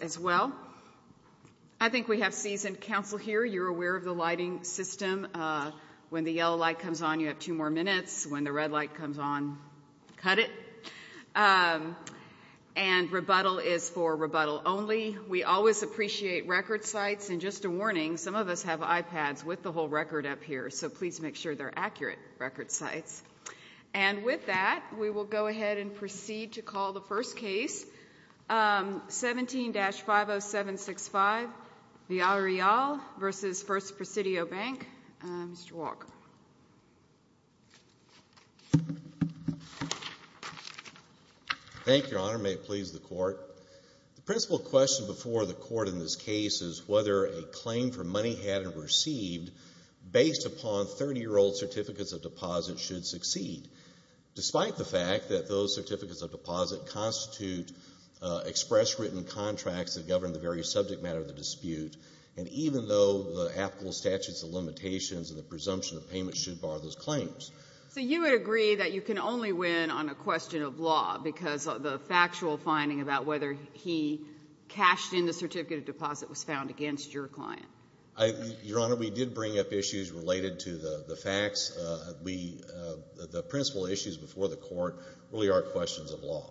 as well. I think we have seasoned counsel here. You're aware of the lighting system. When the yellow light comes on, you have two more minutes. When the red light comes on, cut it. And rebuttal is for rebuttal only. We always appreciate record sites. And just a warning, some of us have iPads with the whole record up here, so please make sure they're accurate record sites. And with that, we will go ahead and proceed to call the first case, 17-50765, Villarreal v. First Presidio Bank. Mr. Walker. Thank you, Your Honor. May it please the Court. The principal question before the Court in this case is whether a claim for money hadn't received based upon 30-year-old certificates of deposit should succeed, despite the fact that those certificates of deposit constitute express written contracts that govern the very subject matter of the dispute, and even though the applicable statutes of limitations and the presumption of payment should bar those claims. So you would agree that you can only win on a question of law because the factual finding about whether he cashed in the certificate of deposit was found against your client? Your Honor, we did bring up issues related to the facts. The principal issues before the Court really are questions of law,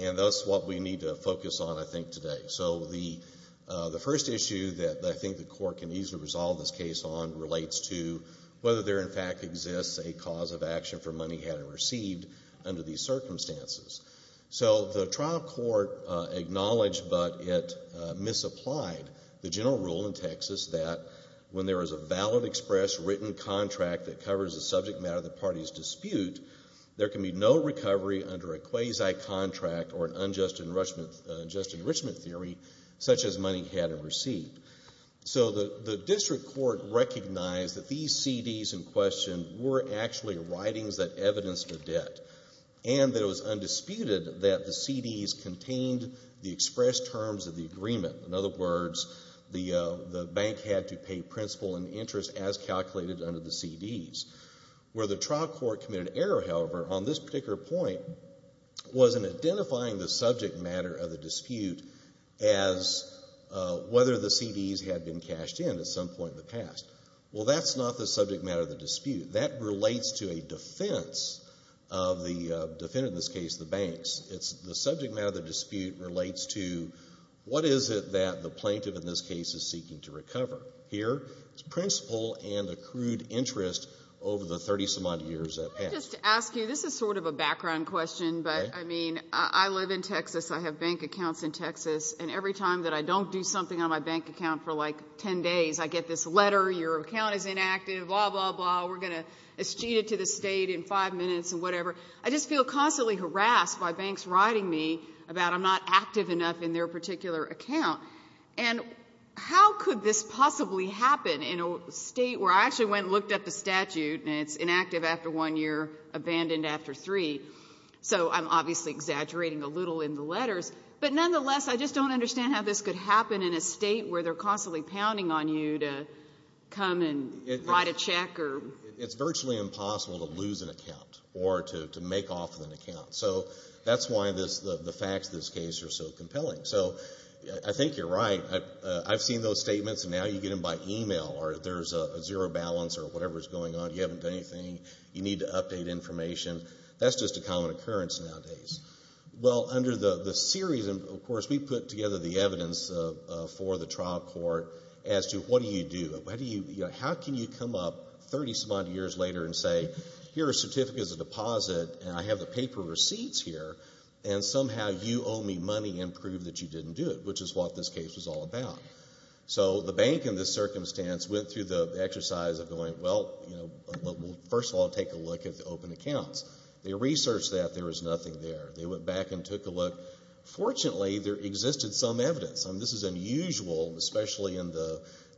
and that's what we need to focus on, I think, today. So the first issue that I think the Court can easily resolve this case on relates to whether there in fact exists a cause of action for money hadn't received under these that when there is a valid express written contract that covers the subject matter of the party's dispute, there can be no recovery under a quasi-contract or an unjust enrichment theory such as money hadn't received. So the district court recognized that these CDs in question were actually writings that evidenced the debt, and that it was undisputed that the CDs contained the expressed terms of the agreement. In other words, the bank had to pay principal and interest as calculated under the CDs. Where the trial court committed error, however, on this particular point was in identifying the subject matter of the dispute as whether the CDs had been cashed in at some point in the past. Well, that's not the subject matter of the dispute. That relates to a defense of the defendant, in this case, the banks. The subject matter of the dispute relates to what is it that the plaintiff in this case is seeking to recover. Here, it's principal and accrued interest over the 30-some-odd years that passed. Can I just ask you, this is sort of a background question, but I mean, I live in Texas, I have bank accounts in Texas, and every time that I don't do something on my bank account for like 10 days, I get this letter, your account is inactive, blah, blah, blah, we're going to eschew it to the state in five minutes, and whatever. I just feel constantly harassed by banks writing me about I'm not active enough in their particular account. And how could this possibly happen in a state where I actually went and looked up the statute, and it's inactive after one year, abandoned after three. So I'm obviously exaggerating a little in the letters, but nonetheless, I just don't understand how this could happen in a state where they're constantly pounding on you to come and write a check. It's virtually impossible to lose an account, or to make off with an account. So that's why the facts of this case are so compelling. So I think you're right. I've seen those statements, and now you get them by email, or there's a zero balance, or whatever's going on, you haven't done anything, you need to update information. That's just a common occurrence nowadays. Well, under the series, of course, we put together the evidence for the trial court as to what do you do? How can you come up 30-some odd years later and say, here are certificates of deposit, and I have the paper receipts here, and somehow you owe me money and prove that you didn't do it, which is what this case was all about. So the bank in this circumstance went through the exercise of going, well, first of all, take a look at the open accounts. They researched that, there was nothing there. They went back and took a look. Fortunately, there existed some evidence, and this is unusual, especially in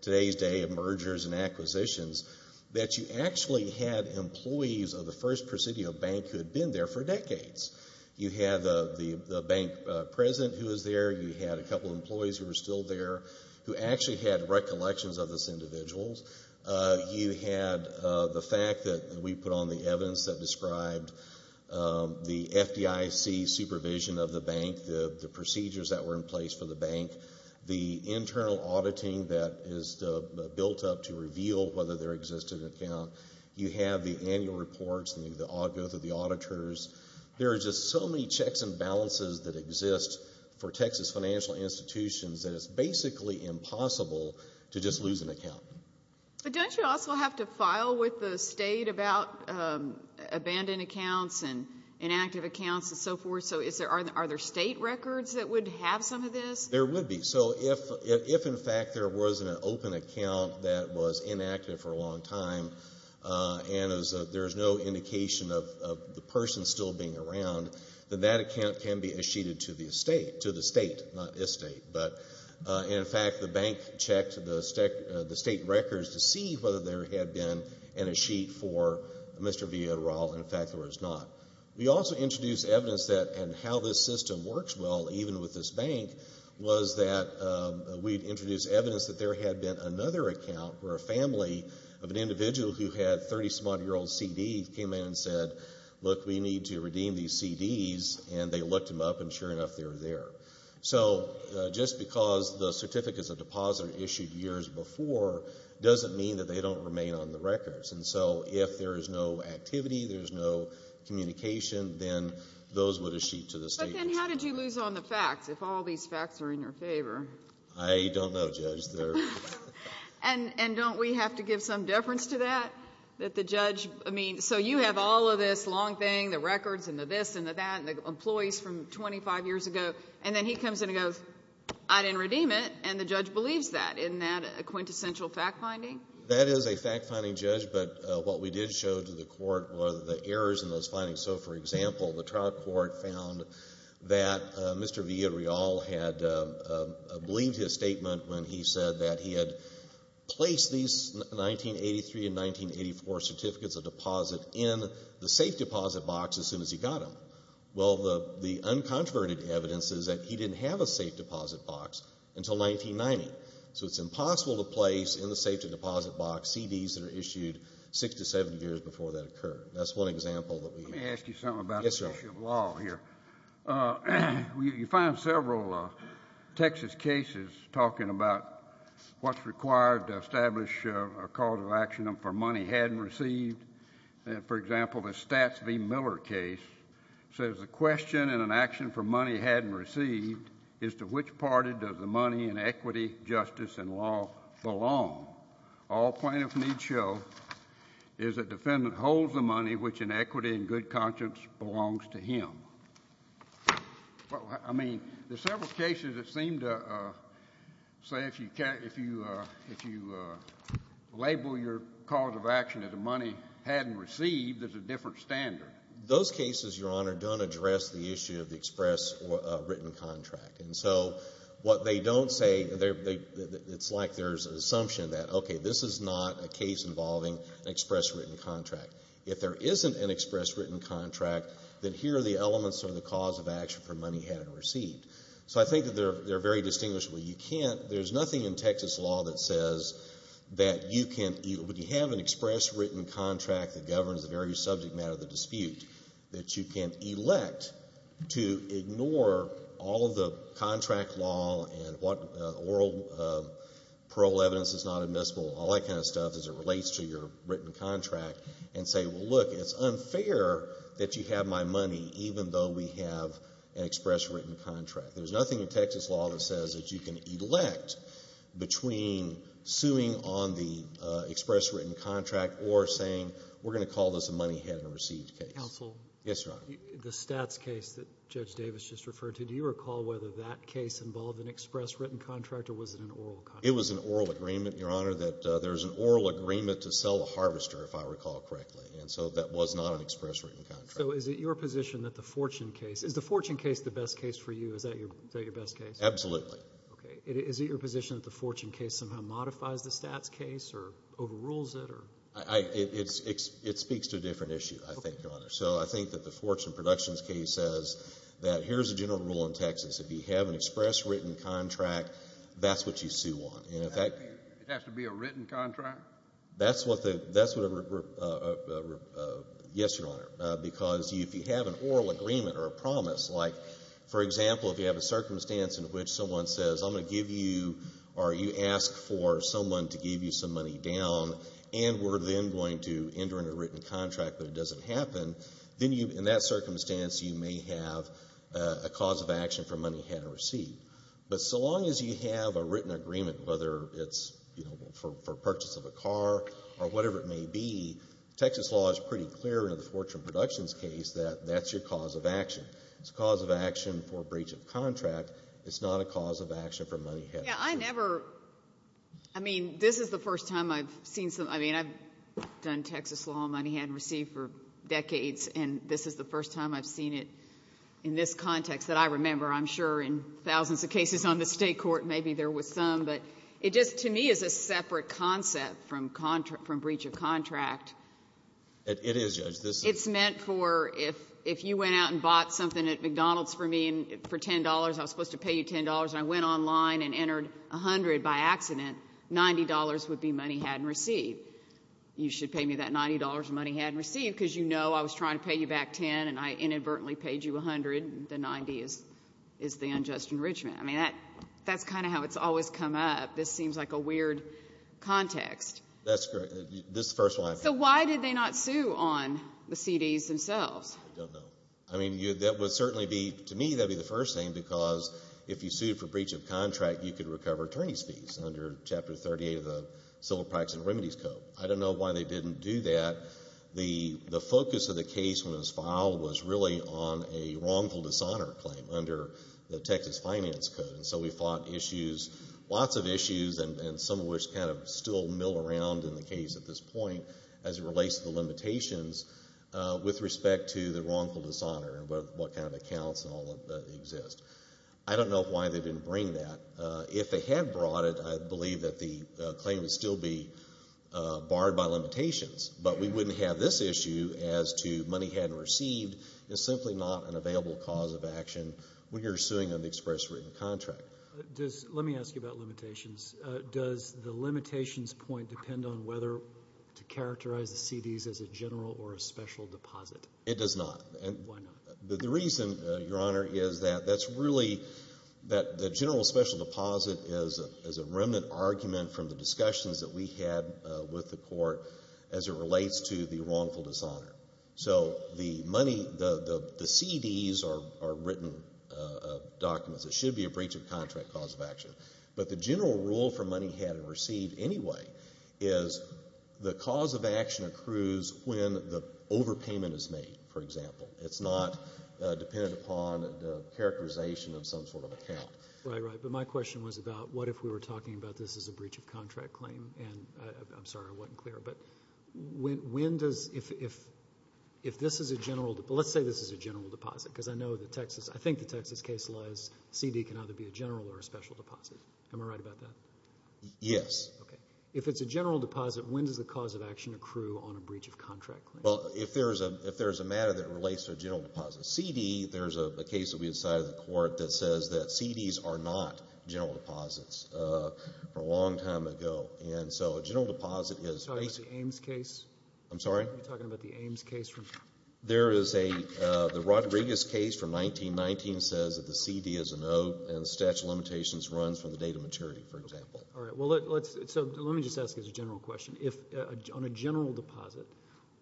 today's day of mergers and acquisitions, that you actually had employees of the First Presidio Bank who had been there for decades. You had the bank president who was there, you had a couple of employees who were still there, who actually had recollections of those documents that described the FDIC supervision of the bank, the procedures that were in place for the bank, the internal auditing that is built up to reveal whether there exists an account. You have the annual reports, the auditors. There are just so many checks and balances that exist for Texas financial institutions that it's basically impossible to just lose an account. But don't you also have to file with the state about abandoned accounts and inactive accounts and so forth? So are there state records that would have some of this? There would be. So if, in fact, there was an open account that was inactive for a long time and there's no indication of the person still being around, then that account can be sheeted to the state, not this state. In fact, the bank checked the state records to see whether there had been a sheet for Mr. Villarreal. In fact, there was not. We also introduced evidence that, and how this system works well, even with this bank, was that we'd introduced evidence that there had been another account where a family of an individual who had 30-some odd-year-old CDs came in and said, look, we need to redeem these CDs. And they looked them up, and sure enough, they were there. So just because the certificate is a deposit issued years before doesn't mean that they don't remain on the records. And so if there is no activity, there's no communication, then those would be sheeted to the state. But then how did you lose on the facts, if all these facts are in your favor? I don't know, Judge. And don't we have to give some deference to that? That the judge, I mean, so you have all of this long thing, the records, and the this and the that, and the employees from 25 years ago, and then he comes in and goes, I didn't redeem it, and the judge believes that. Isn't that a quintessential fact-finding? That is a fact-finding, Judge, but what we did show to the Court were the errors in those findings. So, for example, the trial court found that Mr. Villarreal had believed his statement when he said that he had placed these 1983 and 1984 certificates of deposit in the safe deposit box as soon as he got them. Well, the uncontroverted evidence is that he didn't have a safe deposit box until 1990. So it's impossible to place in the safe deposit box CDs that are issued six to seven years before that occurred. That's one example that we have. Let me ask you something about the issue of law here. You find several Texas cases talking about what's required to establish a cause of action for money hadn't received. For example, the Stats v. Miller case says the question in an action for money hadn't received is to which party does the money in equity, justice, and law belong? All plaintiffs need show is that defendant holds the money which in equity and good conscience belongs to him. I mean, there's several cases that seem to say if you label your cause of action as a money hadn't received, there's a different standard. Those cases, Your Honor, don't address the issue of the express written contract. And so what they don't say, it's like there's an assumption that, okay, this is not a case involving an express written contract. If there isn't an express written contract, then here are the elements of the cause of action for money hadn't received. So I think that they're very distinguishable. You can't, there's nothing in Texas law that says that you can't, when you have an express written contract that governs the very subject matter of the dispute, that you can't elect to ignore all of the contract law and what oral parole evidence is not admissible, all that kind of stuff as it relates to your written contract and say, well, look, it's unfair that you have my money even though we have an express written contract. There's nothing in Texas law that says that you can elect between suing on the express written contract or saying we're going to call this a money hadn't received case. Counsel? Yes, Your Honor. The Stats case that Judge Davis just referred to, do you recall whether that case involved an express written contract or was it an oral contract? It was an oral agreement, Your Honor, that there's an oral agreement to sell a harvester, if I recall correctly, and so that was not an express written contract. So is it your position that the Fortune case, is the Fortune case the best case for you? Is that your best case? Absolutely. Okay. Is it your position that the Fortune case somehow modifies the Stats case or overrules it or? It speaks to a different issue, I think, Your Honor. So I think that the Fortune Productions case says that here's the general rule in Texas. If you have an express written contract, that's what you sue on. It has to be a written contract? That's what the, that's what the, yes, Your Honor, because if you have an oral agreement or a promise, like, for example, if you have a circumstance in which someone says, I'm going to give you or you ask for someone to give you some money down and we're then going to enter in a written contract but it doesn't happen, then you, in that circumstance, you may have a cause of action for money hadn't received. But so long as you have a written agreement, whether it's, you know, for purchase of a car or whatever it may be, Texas law is pretty clear in the Fortune Productions case that that's your cause of action. It's a cause of action for a breach of contract. It's not a cause of action for money hadn't received. Yeah, I never, I mean, this is the first time I've seen some, I mean, I've done Texas law on money hadn't received for decades and this is the first time I've seen it in this context that I remember. I'm sure in thousands of cases on the state court, maybe there was some, but it just, to me, is a separate concept from breach of contract. It is, Judge. It's meant for, if you went out and bought something at McDonald's for me for $10, I was supposed to pay you $10 and I went online and entered $100 by accident, $90 would be money hadn't received. You should pay me that $90 of money hadn't received because you know I was trying to pay you back $10 and I inadvertently paid you $100. The $90 is the unjust enrichment. I mean, that's kind of how it's always come up. This seems like a weird context. That's correct. This is the first one I've heard. So why did they not sue on the CDs themselves? I don't know. I mean, that would certainly be, to me, that would be the first thing because if you sued for breach of contract, you could recover attorney's fees under Chapter 38 of the Civil Practice and Remedies Code. I don't know why they didn't do that. The focus of the case when it was filed was really on a wrongful dishonor claim under the Texas Finance Code. And so we fought issues, lots of issues, and some of which kind of still mill around in the case at this point as it relates to the limitations with respect to the wrongful dishonor and what kind of accounts and all that exist. I don't know why they didn't bring that. If they had brought it, I believe that the claim would still be under limitations, but we wouldn't have this issue as to money hadn't received is simply not an available cause of action when you're suing an express written contract. Let me ask you about limitations. Does the limitations point depend on whether to characterize the CDs as a general or a special deposit? It does not. Why not? The reason, Your Honor, is that that's really that the general special deposit is a remnant argument from the discussions that we had with the court as it relates to the wrongful dishonor. So the money, the CDs are written documents. It should be a breach of contract cause of action. But the general rule for money hadn't received anyway is the cause of action accrues when the overpayment is made, for example. It's not dependent upon the characterization of some sort of account. Right, right. But my question was about what if we were talking about this as a breach of contract claim? And I'm sorry I wasn't clear, but when does, if this is a general deposit, let's say this is a general deposit, because I know the Texas, I think the Texas case lies, CD can either be a general or a special deposit. Am I right about that? Yes. Okay. If it's a general deposit, when does the cause of action accrue on a breach of contract claim? Well, if there's a matter that relates to a general deposit CD, there's a case that we decided in the court that says that CDs are not general deposits for a long time ago. And so a general deposit is basically... Are you talking about the Ames case? I'm sorry? Are you talking about the Ames case? There is a, the Rodriguez case from 1919 says that the CD is a note and the statute of limitations runs from the date of maturity, for example. All right. Well, let's, so let me just ask as a general question. If on a general deposit,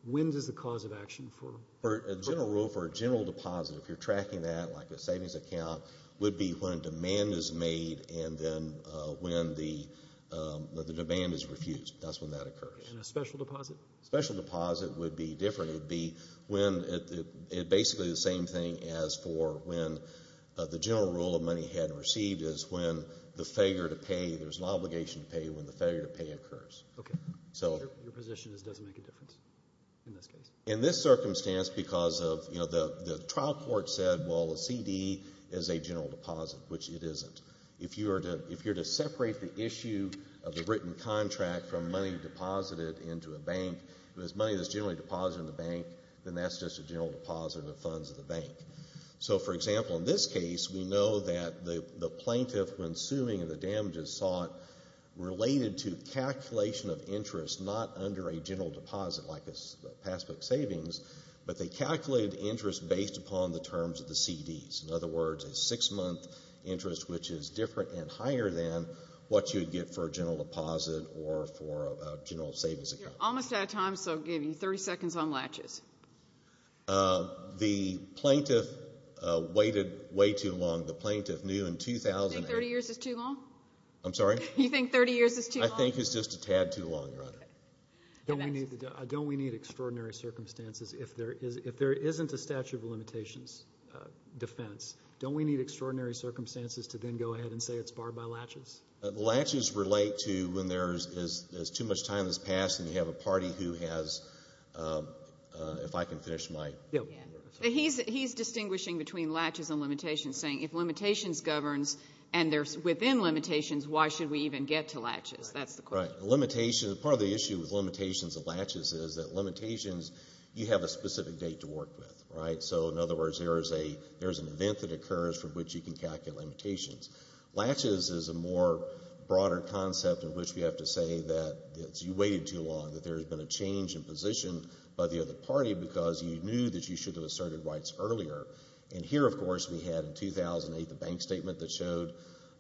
when does the cause of action for... A general rule for a general deposit, if you're tracking that like a savings account, would be when demand is made and then when the demand is refused. That's when that occurs. And a special deposit? Special deposit would be different. It would be when, it basically the same thing as for when the general rule of money had received is when the failure to pay, there's an obligation to pay when the failure to pay occurs. Okay. Your position is it doesn't make a difference in this case? In this circumstance, because of, you know, the trial court said, well, the CD is a general deposit, which it isn't. If you are to, if you're to separate the issue of the written contract from money deposited into a bank, if it's money that's generally deposited in the bank, then that's just a general deposit in the funds of the bank. So for example, in this case, we know that the plaintiff, when suing and the damages is sought, related to calculation of interest, not under a general deposit like a passbook savings, but they calculated interest based upon the terms of the CDs. In other words, a six-month interest, which is different and higher than what you would get for a general deposit or for a general savings account. You're almost out of time, so I'll give you 30 seconds on latches. The plaintiff waited way too long. The plaintiff knew in 2008 You think 30 years is too long? I'm sorry? You think 30 years is too long? I think it's just a tad too long, Your Honor. Don't we need extraordinary circumstances? If there isn't a statute of limitations defense, don't we need extraordinary circumstances to then go ahead and say it's barred by latches? Latches relate to when there's too much time that's passed and you have a party who has, if I can finish my... He's distinguishing between latches and limitations, saying if limitations governs and they're within limitations, why should we even get to latches? That's the question. Part of the issue with limitations and latches is that limitations, you have a specific date to work with. In other words, there's an event that occurs from which you can calculate limitations. Latches is a more broader concept in which we have to say that you waited too long, that there's been a change in position by the other party because you knew that you should have asserted rights earlier. Here, of course, we had in 2008 the bank statement that showed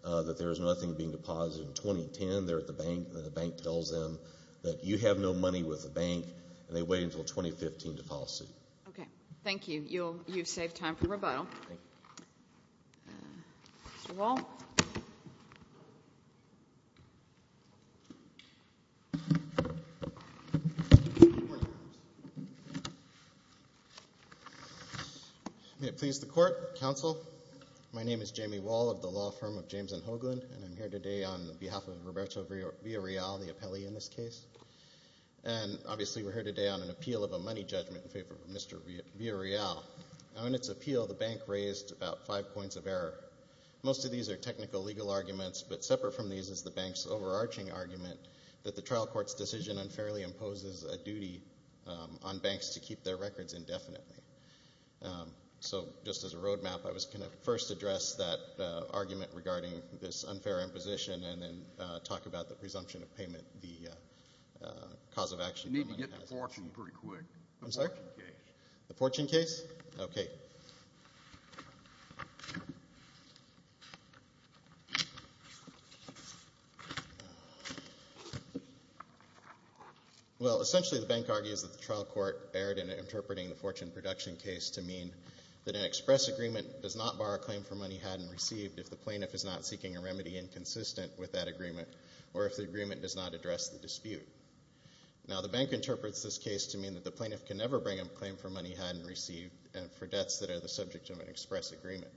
that there was nothing being deposited. In 2010, they're at the bank and the bank tells them that you have no money with the bank and they wait until 2015 to file a suit. Thank you. You've saved time for rebuttal. May it please the court, counsel. My name is Jamie Wall of the law firm of James and Hoagland and I'm here today on behalf of Roberto Villarreal, the appellee in this case. Obviously, we're here today on an appeal of a money judgment in favor of Mr. Villarreal. On its appeal, the bank raised about five points of error. Most of these are technical legal arguments, but separate from these is the bank's overarching argument that the trial court's decision unfairly imposes a duty on banks to keep their records indefinitely. Just as a road map, I was going to first address that argument regarding this unfair imposition and then talk about the presumption of payment, the cause of action. Well, essentially, the bank argues that the trial court erred in interpreting the fortune production case to mean that an express agreement does not bar a claim for money had and received if the plaintiff is not seeking a remedy inconsistent with that agreement or if the agreement does not address the dispute. Now, the bank interprets this case to mean that the plaintiff can never bring a claim for money had and received for debts that are the subject of an express agreement.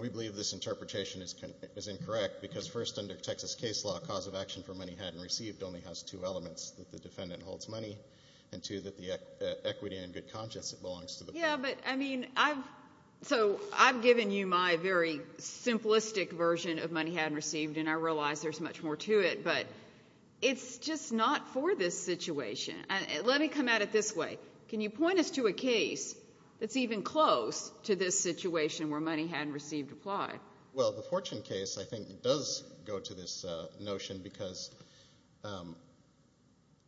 We believe this interpretation is incorrect because first under Texas case law, a cause of action for money had and received only has two elements, that the defendant holds money and two, that the equity and good conscience that belongs to the bank. Yeah, but I mean, I've, so I've given you my very simplistic version of money had and received and I realize there's much more to it, but it's just not for this situation. Let me come at it this way. Can you point us to a case that's even close to this situation where money had and received applied? Well, the fortune case, I think, does go to this notion because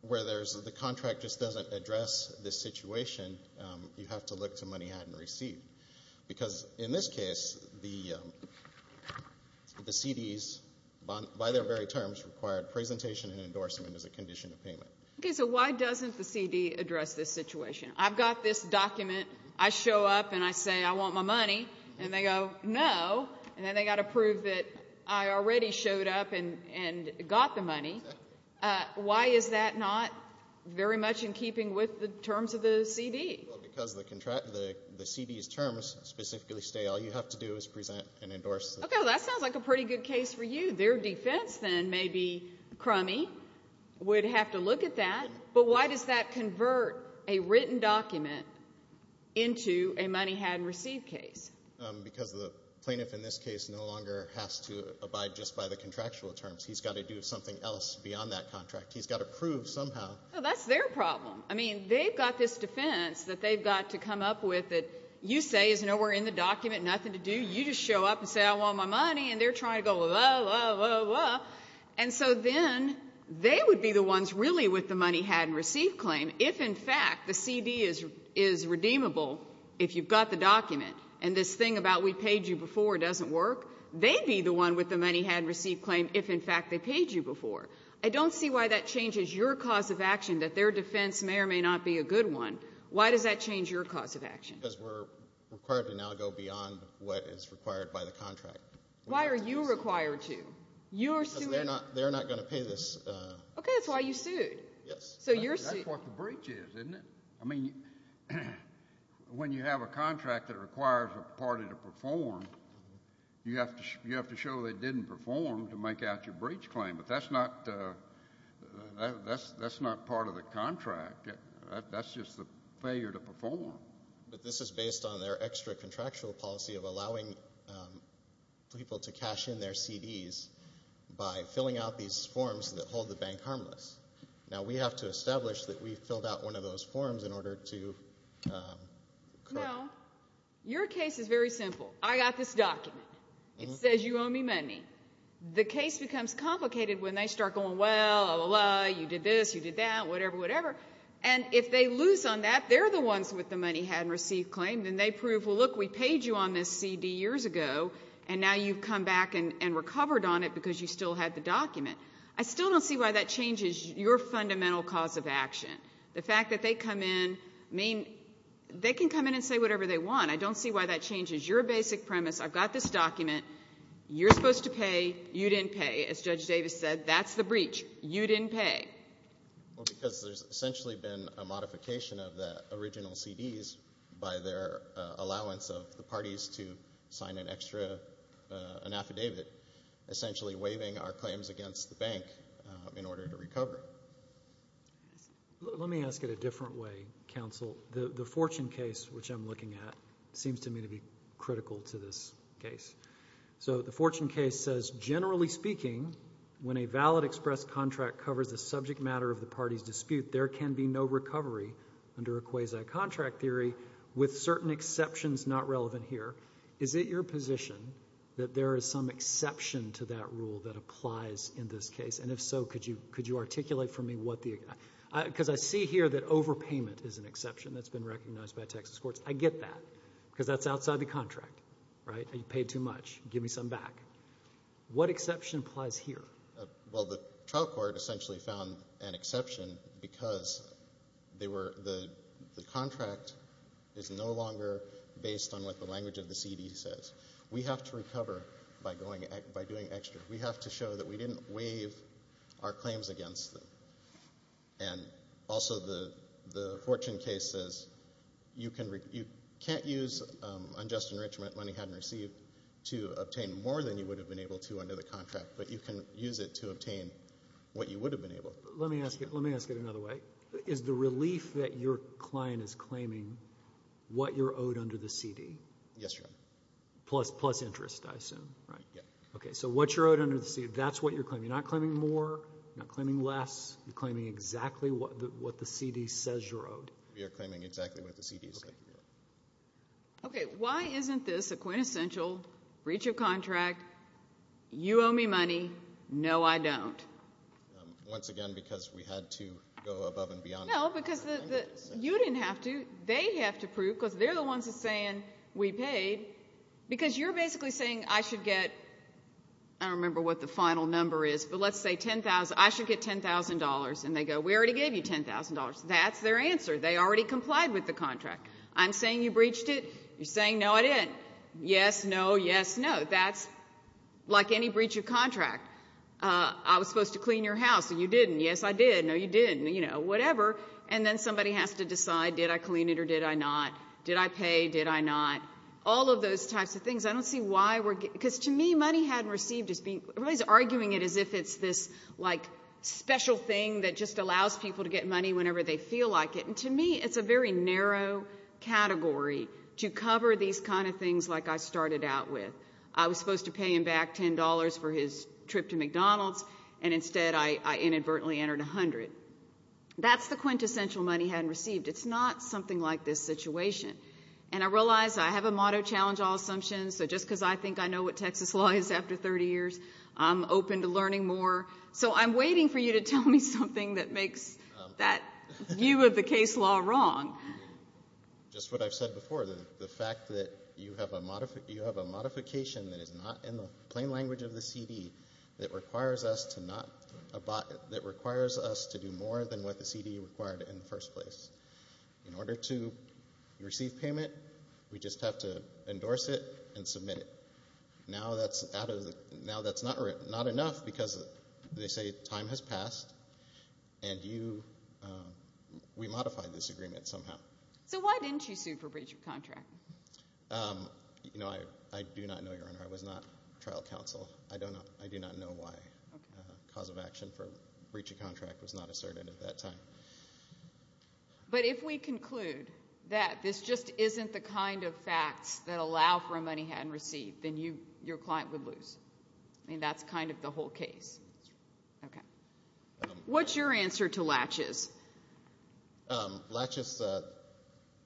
where there's, the contract just doesn't address this situation, you have to look to money had and received because in this case, the CD's, by their very terms, required presentation and endorsement as a condition of payment. Okay, so why doesn't the CD address this situation? I've got this document, I show up and I say I want my money and they go, no, and then they got to prove that I already showed up and got the money. Why is that not very much in keeping with the terms of the CD? Well, because the contract, the CD's terms specifically say all you have to do is present and endorse. Okay, well that sounds like a pretty good case for you. Their defense then may be crummy, would have to look at that, but why does that convert a written document into a money had and received case? Because the plaintiff in this case no longer has to abide just by the contractual terms. He's got to do something else beyond that contract. He's got to prove somehow. Well, that's their problem. I mean, they've got this defense that they've got to come up with that you say is nowhere in the document, nothing to do, you just show up and say I want my money and they're trying to go, blah, blah, blah, blah. And so then they would be the ones really with the money had and received claim if in fact the CD is redeemable if you've got the document. And this thing about we paid you before doesn't work. They'd be the one with the money had and received claim if in fact they paid you before. I don't see why that changes your cause of action that their defense may or may not be a good one. Why does that change your cause of action? Because we're required to now go beyond what is required by the contract. Why are you required to? You're suing. Because they're not going to pay this. Okay, that's why you sued. Yes. So you're suing. Well, that's what the breach is, isn't it? I mean, when you have a contract that requires a party to perform, you have to show they didn't perform to make out your breach claim. But that's not part of the contract. That's just the failure to perform. But this is based on their extra contractual policy of allowing people to cash in their CDs by filling out these forms that hold the bank harmless. Now, we have to establish that we've filled out one of those forms in order to correct. No. Your case is very simple. I got this document. It says you owe me money. The case becomes complicated when they start going, well, you did this, you did that, whatever, whatever. And if they lose on that, they're the ones with the money had and received claim, then they prove, well, look, we paid you on this CD years ago, and now you've come back and recovered on it because you still had the document. I still don't see why that changes your fundamental cause of action. The fact that they come in, I mean, they can come in and say whatever they want. I don't see why that changes your basic premise. I've got this document. You're supposed to pay. You didn't pay. As Judge Davis said, that's the breach. You didn't pay. Well, because there's essentially been a modification of the original CDs by their allowance of the parties to sign an extra, an affidavit, essentially waiving our claims against the parties. Let me ask it a different way, counsel. The Fortune case, which I'm looking at, seems to me to be critical to this case. So the Fortune case says, generally speaking, when a valid express contract covers the subject matter of the party's dispute, there can be no recovery under a quasi-contract theory with certain exceptions not relevant here. Is it your position that there is some exception to that rule that applies in this case? And if so, could you articulate for me what the... because I see here that overpayment is an exception that's been recognized by Texas courts. I get that because that's outside the contract, right? You paid too much. Give me some back. What exception applies here? Well, the trial court essentially found an exception because they were... the contract is no longer based on what the language of the CD says. We have to recover by doing extra. We have to show that we didn't waive our claims against them. And also the Fortune case says you can't use unjust enrichment, money hadn't received, to obtain more than you would have been able to under the contract, but you can use it to obtain what you would have been able to. Let me ask it another way. Is the relief that your client is claiming what you're owed under the CD? Yes, Your Honor. Plus interest, I assume, right? Yes. Okay, so what you're owed under the CD, that's what you're claiming. You're not claiming more, you're not claiming less, you're claiming exactly what the CD says you're owed. We are claiming exactly what the CD says we're owed. Okay, why isn't this a quintessential breach of contract, you owe me money, no I don't? Once again, because we had to go above and beyond... No, because you didn't have to. They have to prove, because they're the ones that are we paid, because you're basically saying I should get, I don't remember what the final number is, but let's say $10,000, I should get $10,000, and they go, we already gave you $10,000. That's their answer. They already complied with the contract. I'm saying you breached it, you're saying no I didn't. Yes, no, yes, no. That's like any breach of contract. I was supposed to clean your house, and you didn't. Yes, I did. No, you didn't. You know, whatever, and then somebody has to decide, did I clean it or did I not? Did I pay, did I not? All of those types of things. I don't see why we're... because to me, money hadn't received... everybody's arguing it as if it's this special thing that just allows people to get money whenever they feel like it, and to me, it's a very narrow category to cover these kind of things like I started out with. I was supposed to pay him back $10 for his trip to McDonald's, and instead I inadvertently entered $100. That's the quintessential money hadn't received. It's not something like this situation, and I realize I have a motto, challenge all assumptions, so just because I think I know what Texas law is after 30 years, I'm open to learning more. So I'm waiting for you to tell me something that makes that view of the case law wrong. Just what I've said before, the fact that you have a modification that is not in the plain language of the CD that requires us to do more than what the CD required in the first place. In order to receive payment, we just have to endorse it and submit it. Now that's out of the... now that's not enough because they say time has passed, and you... we modified this agreement somehow. So why didn't you sue for breach of contract? You know, I do not know, Your Honor. I was not trial counsel. I do not know why cause of action for breach of contract was not asserted at that time. But if we conclude that this just isn't the kind of facts that allow for a money hadn't received, then your client would lose. I mean, that's kind of the whole case. Okay. What's your answer to Latches? Latches,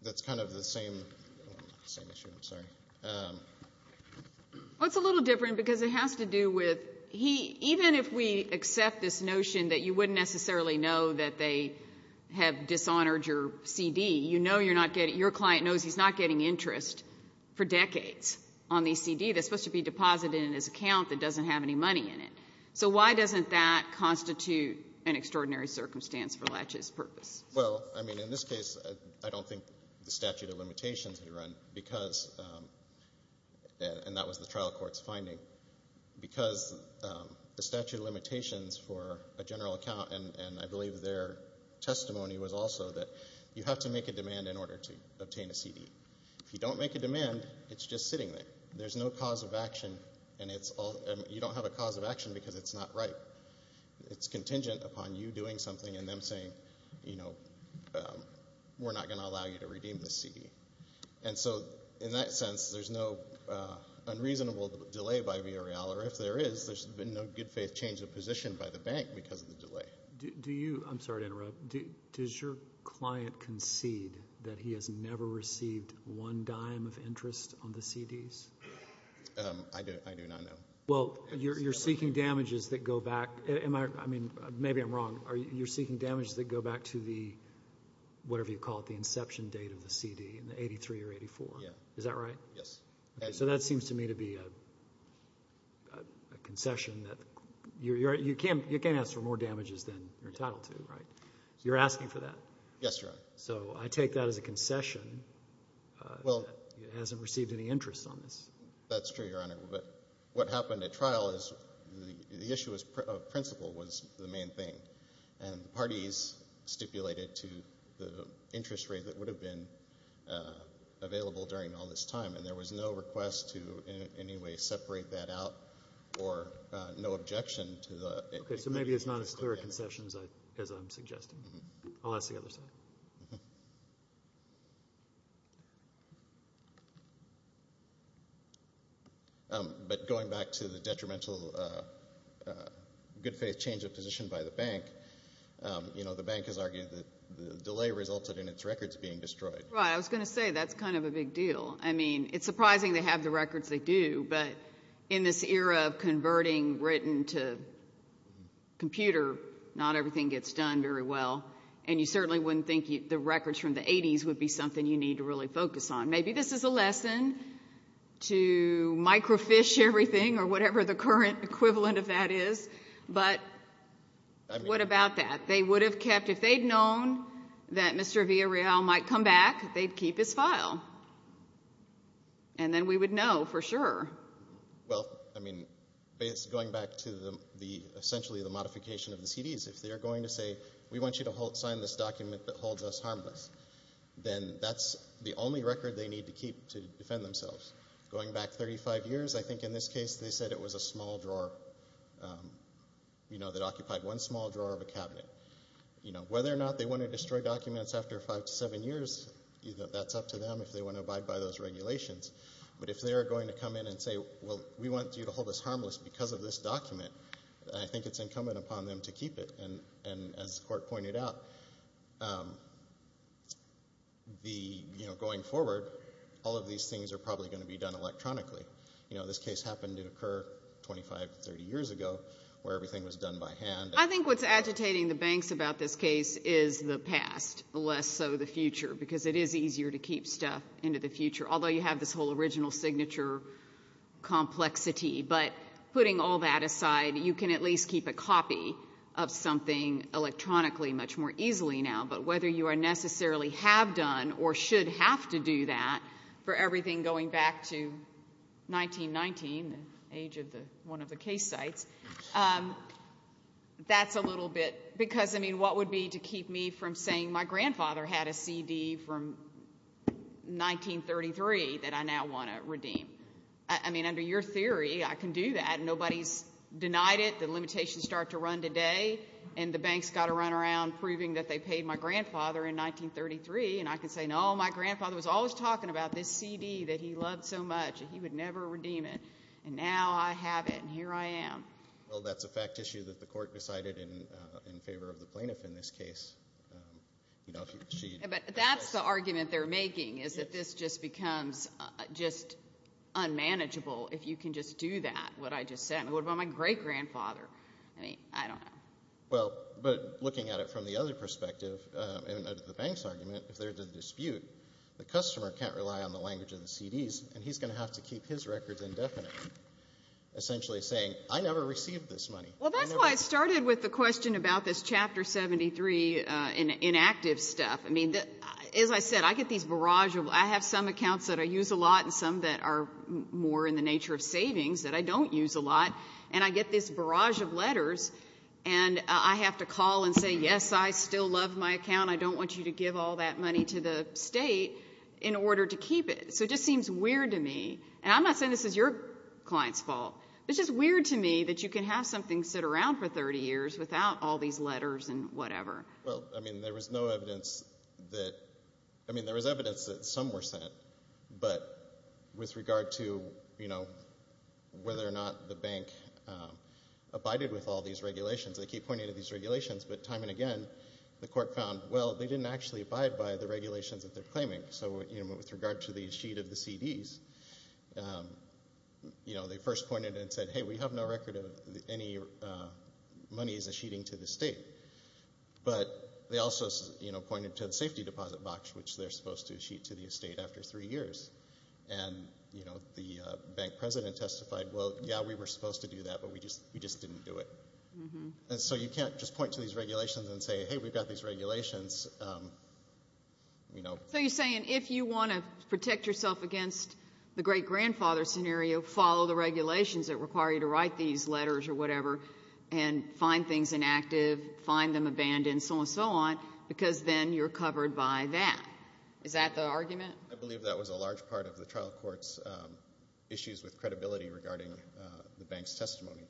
that's kind of the same issue. I'm sorry. Well, it's a little different because it has to do with... he... even if we accept this notion that you wouldn't necessarily know that they have dishonored your CD, you know you're not getting... your client knows he's not getting interest for decades on the CD that's supposed to be deposited in his account that doesn't have any money in it. So why doesn't that constitute an extraordinary circumstance for Latches' purpose? Well, I mean, in this case, I don't think the statute of limitations had to run because... and that was the trial court's finding... because the statute of limitations for a general account and I believe their testimony was also that you have to make a demand in order to obtain a CD. If you don't make a demand, it's just sitting there. There's no cause of action and you don't have a cause of action because it's not right. It's contingent upon you doing something and them saying, you know, we're not going to allow you to redeem this CD. And so in that sense, there's no unreasonable delay by Viorel or if there is, there's been no good faith change of position by the bank because of the delay. Do you... I'm sorry to interrupt. Does your client concede that he has never received one dime of interest on the CDs? I do not know. Well, you're seeking damages that go back... am I... I mean, maybe I'm wrong. You're seeking damages that go back to the... whatever you call it... the inception date of the CD in the 83 or 84. Is that right? Yes. So that seems to me to be a concession that... you can't ask for more damages than you're entitled to, right? You're asking for that. Yes, Your Honor. So I take that as a concession that he hasn't received any interest on this. That's true, Your Honor, but what happened at trial is the issue of principle was the main thing and parties stipulated to the interest rate that would have been available during all this time, and there was no request to in any way separate that out or no objection to the... Okay, so maybe it's not as clear a concession as I'm suggesting. I'll ask the other side. But going back to the detrimental good faith change of position by the bank, you know, the bank has argued that the delay resulted in its records being destroyed. Right. I was going to say that's kind of a big deal. I mean, it's surprising they have the records they do, but in this era of converting written to computer, not everything gets done very well, and you certainly wouldn't think the records from the 80s would be something you need to really focus on. Maybe this is a lesson to microfiche everything or whatever the current equivalent of that is, but what about that? They would have kept... if they'd known that Mr. Villarreal might come back, they'd keep his file, and then we would know for sure. Well, I mean, going back to essentially the modification of the CDs, if they're going to say sign this document that holds us harmless, then that's the only record they need to keep to defend themselves. Going back 35 years, I think in this case they said it was a small drawer that occupied one small drawer of a cabinet. Whether or not they want to destroy documents after five to seven years, that's up to them if they want to abide by those regulations. But if they're going to come in and say, well, we want you to hold us harmless because of this pointed out, going forward, all of these things are probably going to be done electronically. This case happened to occur 25 to 30 years ago where everything was done by hand. I think what's agitating the banks about this case is the past, less so the future, because it is easier to keep stuff into the future, although you have this whole original signature complexity. But putting all that aside, you can at least keep a copy of something electronically much more easily now. But whether you necessarily have done or should have to do that for everything going back to 1919, the age of one of the case sites, that's a little bit because, I mean, what would be to keep me from saying my grandfather had a CD from 1933 that I now want to redeem? I mean, under your theory, I can do that. Nobody's denied it. The limitations start to run today, and the banks got to run around proving that they paid my grandfather in 1933. And I can say, no, my grandfather was always talking about this CD that he loved so much, and he would never redeem it. And now I have it, and here I am. Well, that's a fact issue that the court decided in favor of the plaintiff in this case. But that's the argument they're making, is that this just becomes just unmanageable if you can just do that, what I just said. What about my great-grandfather? I mean, I don't know. Well, but looking at it from the other perspective, in the bank's argument, if there's a dispute, the customer can't rely on the language of the CDs, and he's going to have to keep his records indefinite, essentially saying, I never received this money. Well, that's why I started with the question about this Chapter 73 inactive stuff. I mean, as I said, I get these barrages. I have some accounts that I use a lot and some that are more in the nature of savings that I don't use a lot, and I get this barrage of letters, and I have to call and say, yes, I still love my account. I don't want you to give all that money to the state in order to keep it. So it just seems weird to me, and I'm not saying this is your client's fault. It's just weird to me that you can have something sit around for 30 years without all these letters and whatever. Well, I mean, there was no evidence that, I mean, there was evidence that some were sent, but with regard to whether or not the bank abided with all these regulations, they keep pointing to these regulations, but time and again the court found, well, they didn't actually abide by the regulations that they're claiming. So with regard to the sheet of the CDs, they first pointed and said, hey, we have no record of any money as a sheeting to the state, but they also pointed to the safety deposit box, which they're supposed to sheet to the state after three years. And, you know, the bank president testified, well, yeah, we were supposed to do that, but we just didn't do it. And so you can't just point to these regulations and say, hey, we've got these regulations, you know. So you're saying if you want to protect yourself against the great grandfather scenario, follow the regulations that require you to write these letters or whatever and find things inactive, find them abandoned, so on and so on, because then you're covered by that. Is that the argument? I believe that was a large part of the trial court's issues with credibility regarding the bank's testimony.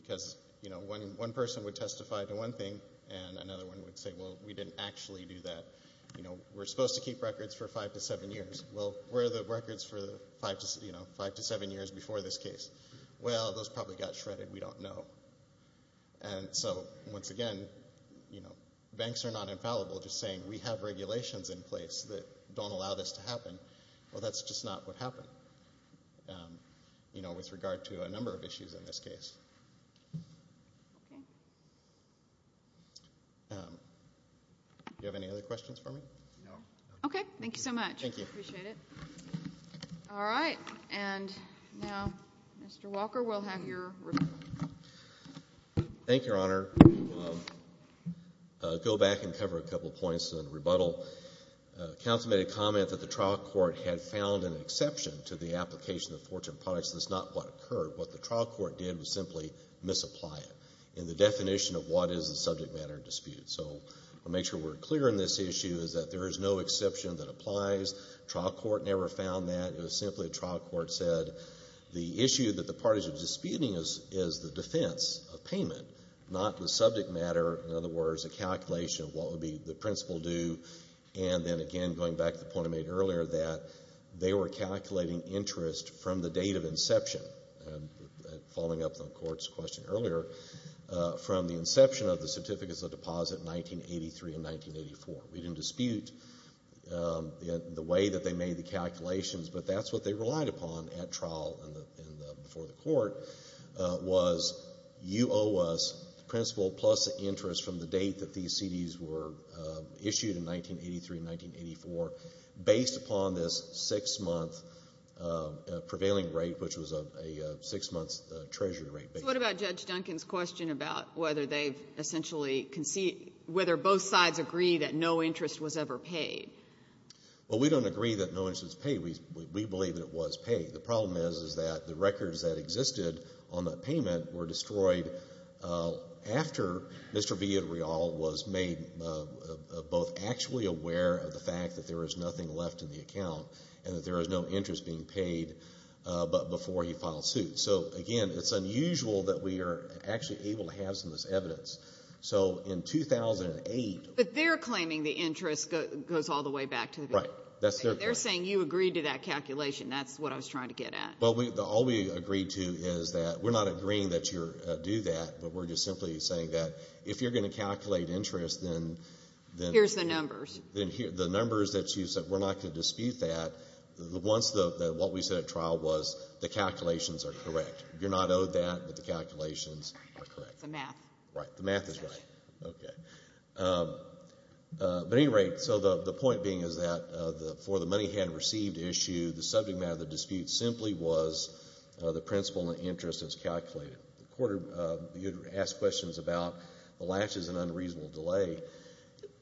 Because, you know, one person would testify to one thing and another one would say, well, we didn't actually do that. You know, we're supposed to keep records for five to seven years. Well, where are the records for, you know, five to seven years before this case? Well, those probably got shredded. We don't know. And so, once again, you know, banks are not infallible. Just saying we have regulations in place that don't allow this to happen, well, that's just not what happened, you know, with regard to a number of issues in this case. Do you have any other questions for me? No. Okay. Thank you so much. Thank you. Appreciate it. All right. And now, Mr. Walker, we'll have your rebuttal. Thank you, Your Honor. I'll go back and cover a couple points and then rebuttal. Counsel made a comment that the trial court had found an exception to the application of fortune products. That's not what occurred. What the trial court did was simply misapply it in the definition of what is the subject matter dispute. So I'll make sure we're clear in this issue is that there is no exception that applies. Trial court never found that. It was simply a trial court said the issue that the parties are disputing is the defense of payment, not the subject matter. In other words, a calculation of what would be the principal due. And then again, going back to the point I made earlier that they were calculating interest from the date of inception, following up on the Court's question earlier, from the inception of the Certificates of Deposit in 1983 and 1984. We didn't dispute the way that they made the calculations, but that's what they relied upon at trial and before the Court, was you owe us principal plus interest from the date that these CDs were issued in 1983 and 1984 based upon this six-month prevailing rate, which was a six-month treasury rate. So what about Judge Duncan's question about whether they've essentially conceded, whether both sides agree that no interest was ever paid? Well, we don't agree that no interest was paid. We believe that it was paid. The problem is, is that the records that existed on that payment were destroyed after Mr. Villarreal was made both actually aware of the fact that there was nothing left in the account and that there was no interest being paid but before he filed suit. So again, it's unusual that we are actually able to have some of this evidence. So in 2008... But they're claiming the interest goes all the way back to the... Right. That's their claim. They're saying you agreed to that calculation. That's what I was trying to get at. Well, all we agreed to is that we're not agreeing that you do that, but we're just simply saying that if you're going to calculate interest, then... Here's the numbers. The numbers that you said, we're not going to dispute that. Once the, what we said at trial was the calculations are correct. You're not owed that, but the calculations are correct. It's the math. Right. The math is right. Okay. But at any rate, so the point being is that for the money had received issue, the subject matter of the dispute simply was the principal and interest as calculated. You'd ask questions about the latches and unreasonable delay.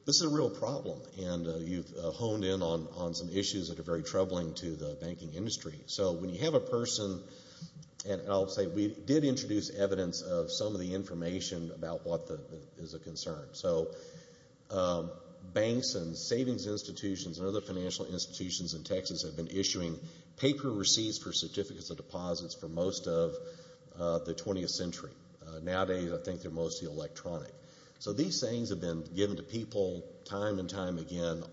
This is a real problem, and you've honed in on some issues that are very troubling to the banking industry. So when you have a person, and I'll say we did introduce evidence of some of the information about what is a concern. So banks and savings institutions and other financial institutions in Texas have been issuing paper receipts for certificates of deposits for most of the 20th century. Nowadays, I think they're mostly electronic. So these things have been given to people time and time again.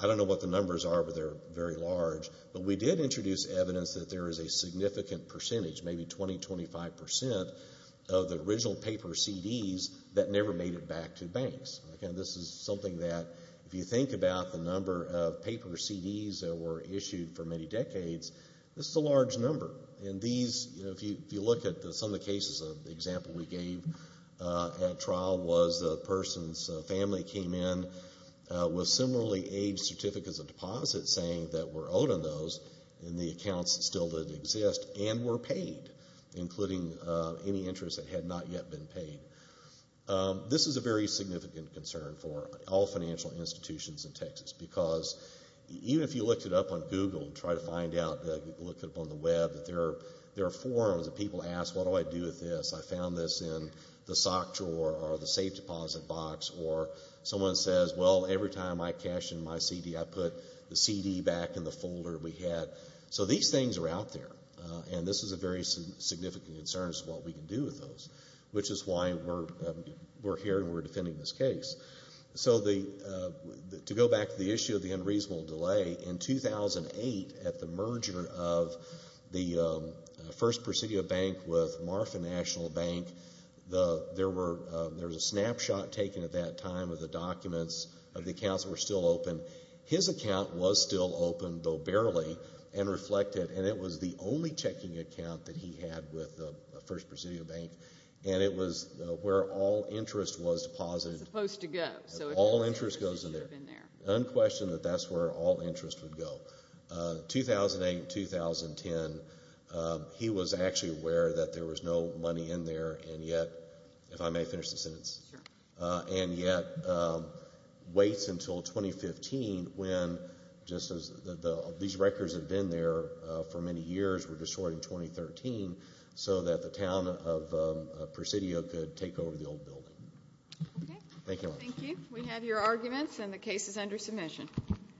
I don't know what the numbers are, but they're very large. But we did introduce evidence that there is a significant percentage, maybe 20, 25% of the original paper CDs that never made it back to banks. Again, this is something that if you think about the number of paper CDs that were issued for many decades, this is a large number. And these, if you look at some of the cases, an example we gave at trial was a person's family came in with similarly aged certificates of deposits saying that were owed on those, and the accounts still didn't exist, and were paid, including any interest that had not yet been paid. This is a very significant concern for all financial institutions in Texas, because even if you looked it up on Google and tried to find out, looked it up on the web, that there are forums that people ask, what do I do with this? I found this in the sock drawer or the safe deposit box. Or someone says, well, every time I cash in my CD, I put the CD back in the folder we had. So these things are out there, and this is a very significant concern as to what we can do with those, which is why we're here and we're defending this case. So to go back to the issue of the unreasonable delay, in 2008, at the merger of the First Presidio Bank with Marfa National Bank, there was a snapshot taken at that time of the documents, of the accounts that were still open. His account was still open, though barely, and reflected, and it was the only checking account that he had with the First Presidio Bank, and it was where all interest was deposited. It was supposed to go. All interest goes in there. Unquestioned that that's where all interest would go. 2008, 2010, he was actually aware that there was no money in there, and yet, if I may finish the sentence, and yet, waits until 2015 when, just as these records have been there for many years, were destroyed in 2013, so that the town of Presidio could take over the old building. Okay. Thank you. Thank you. We have your arguments, and the case is under submission.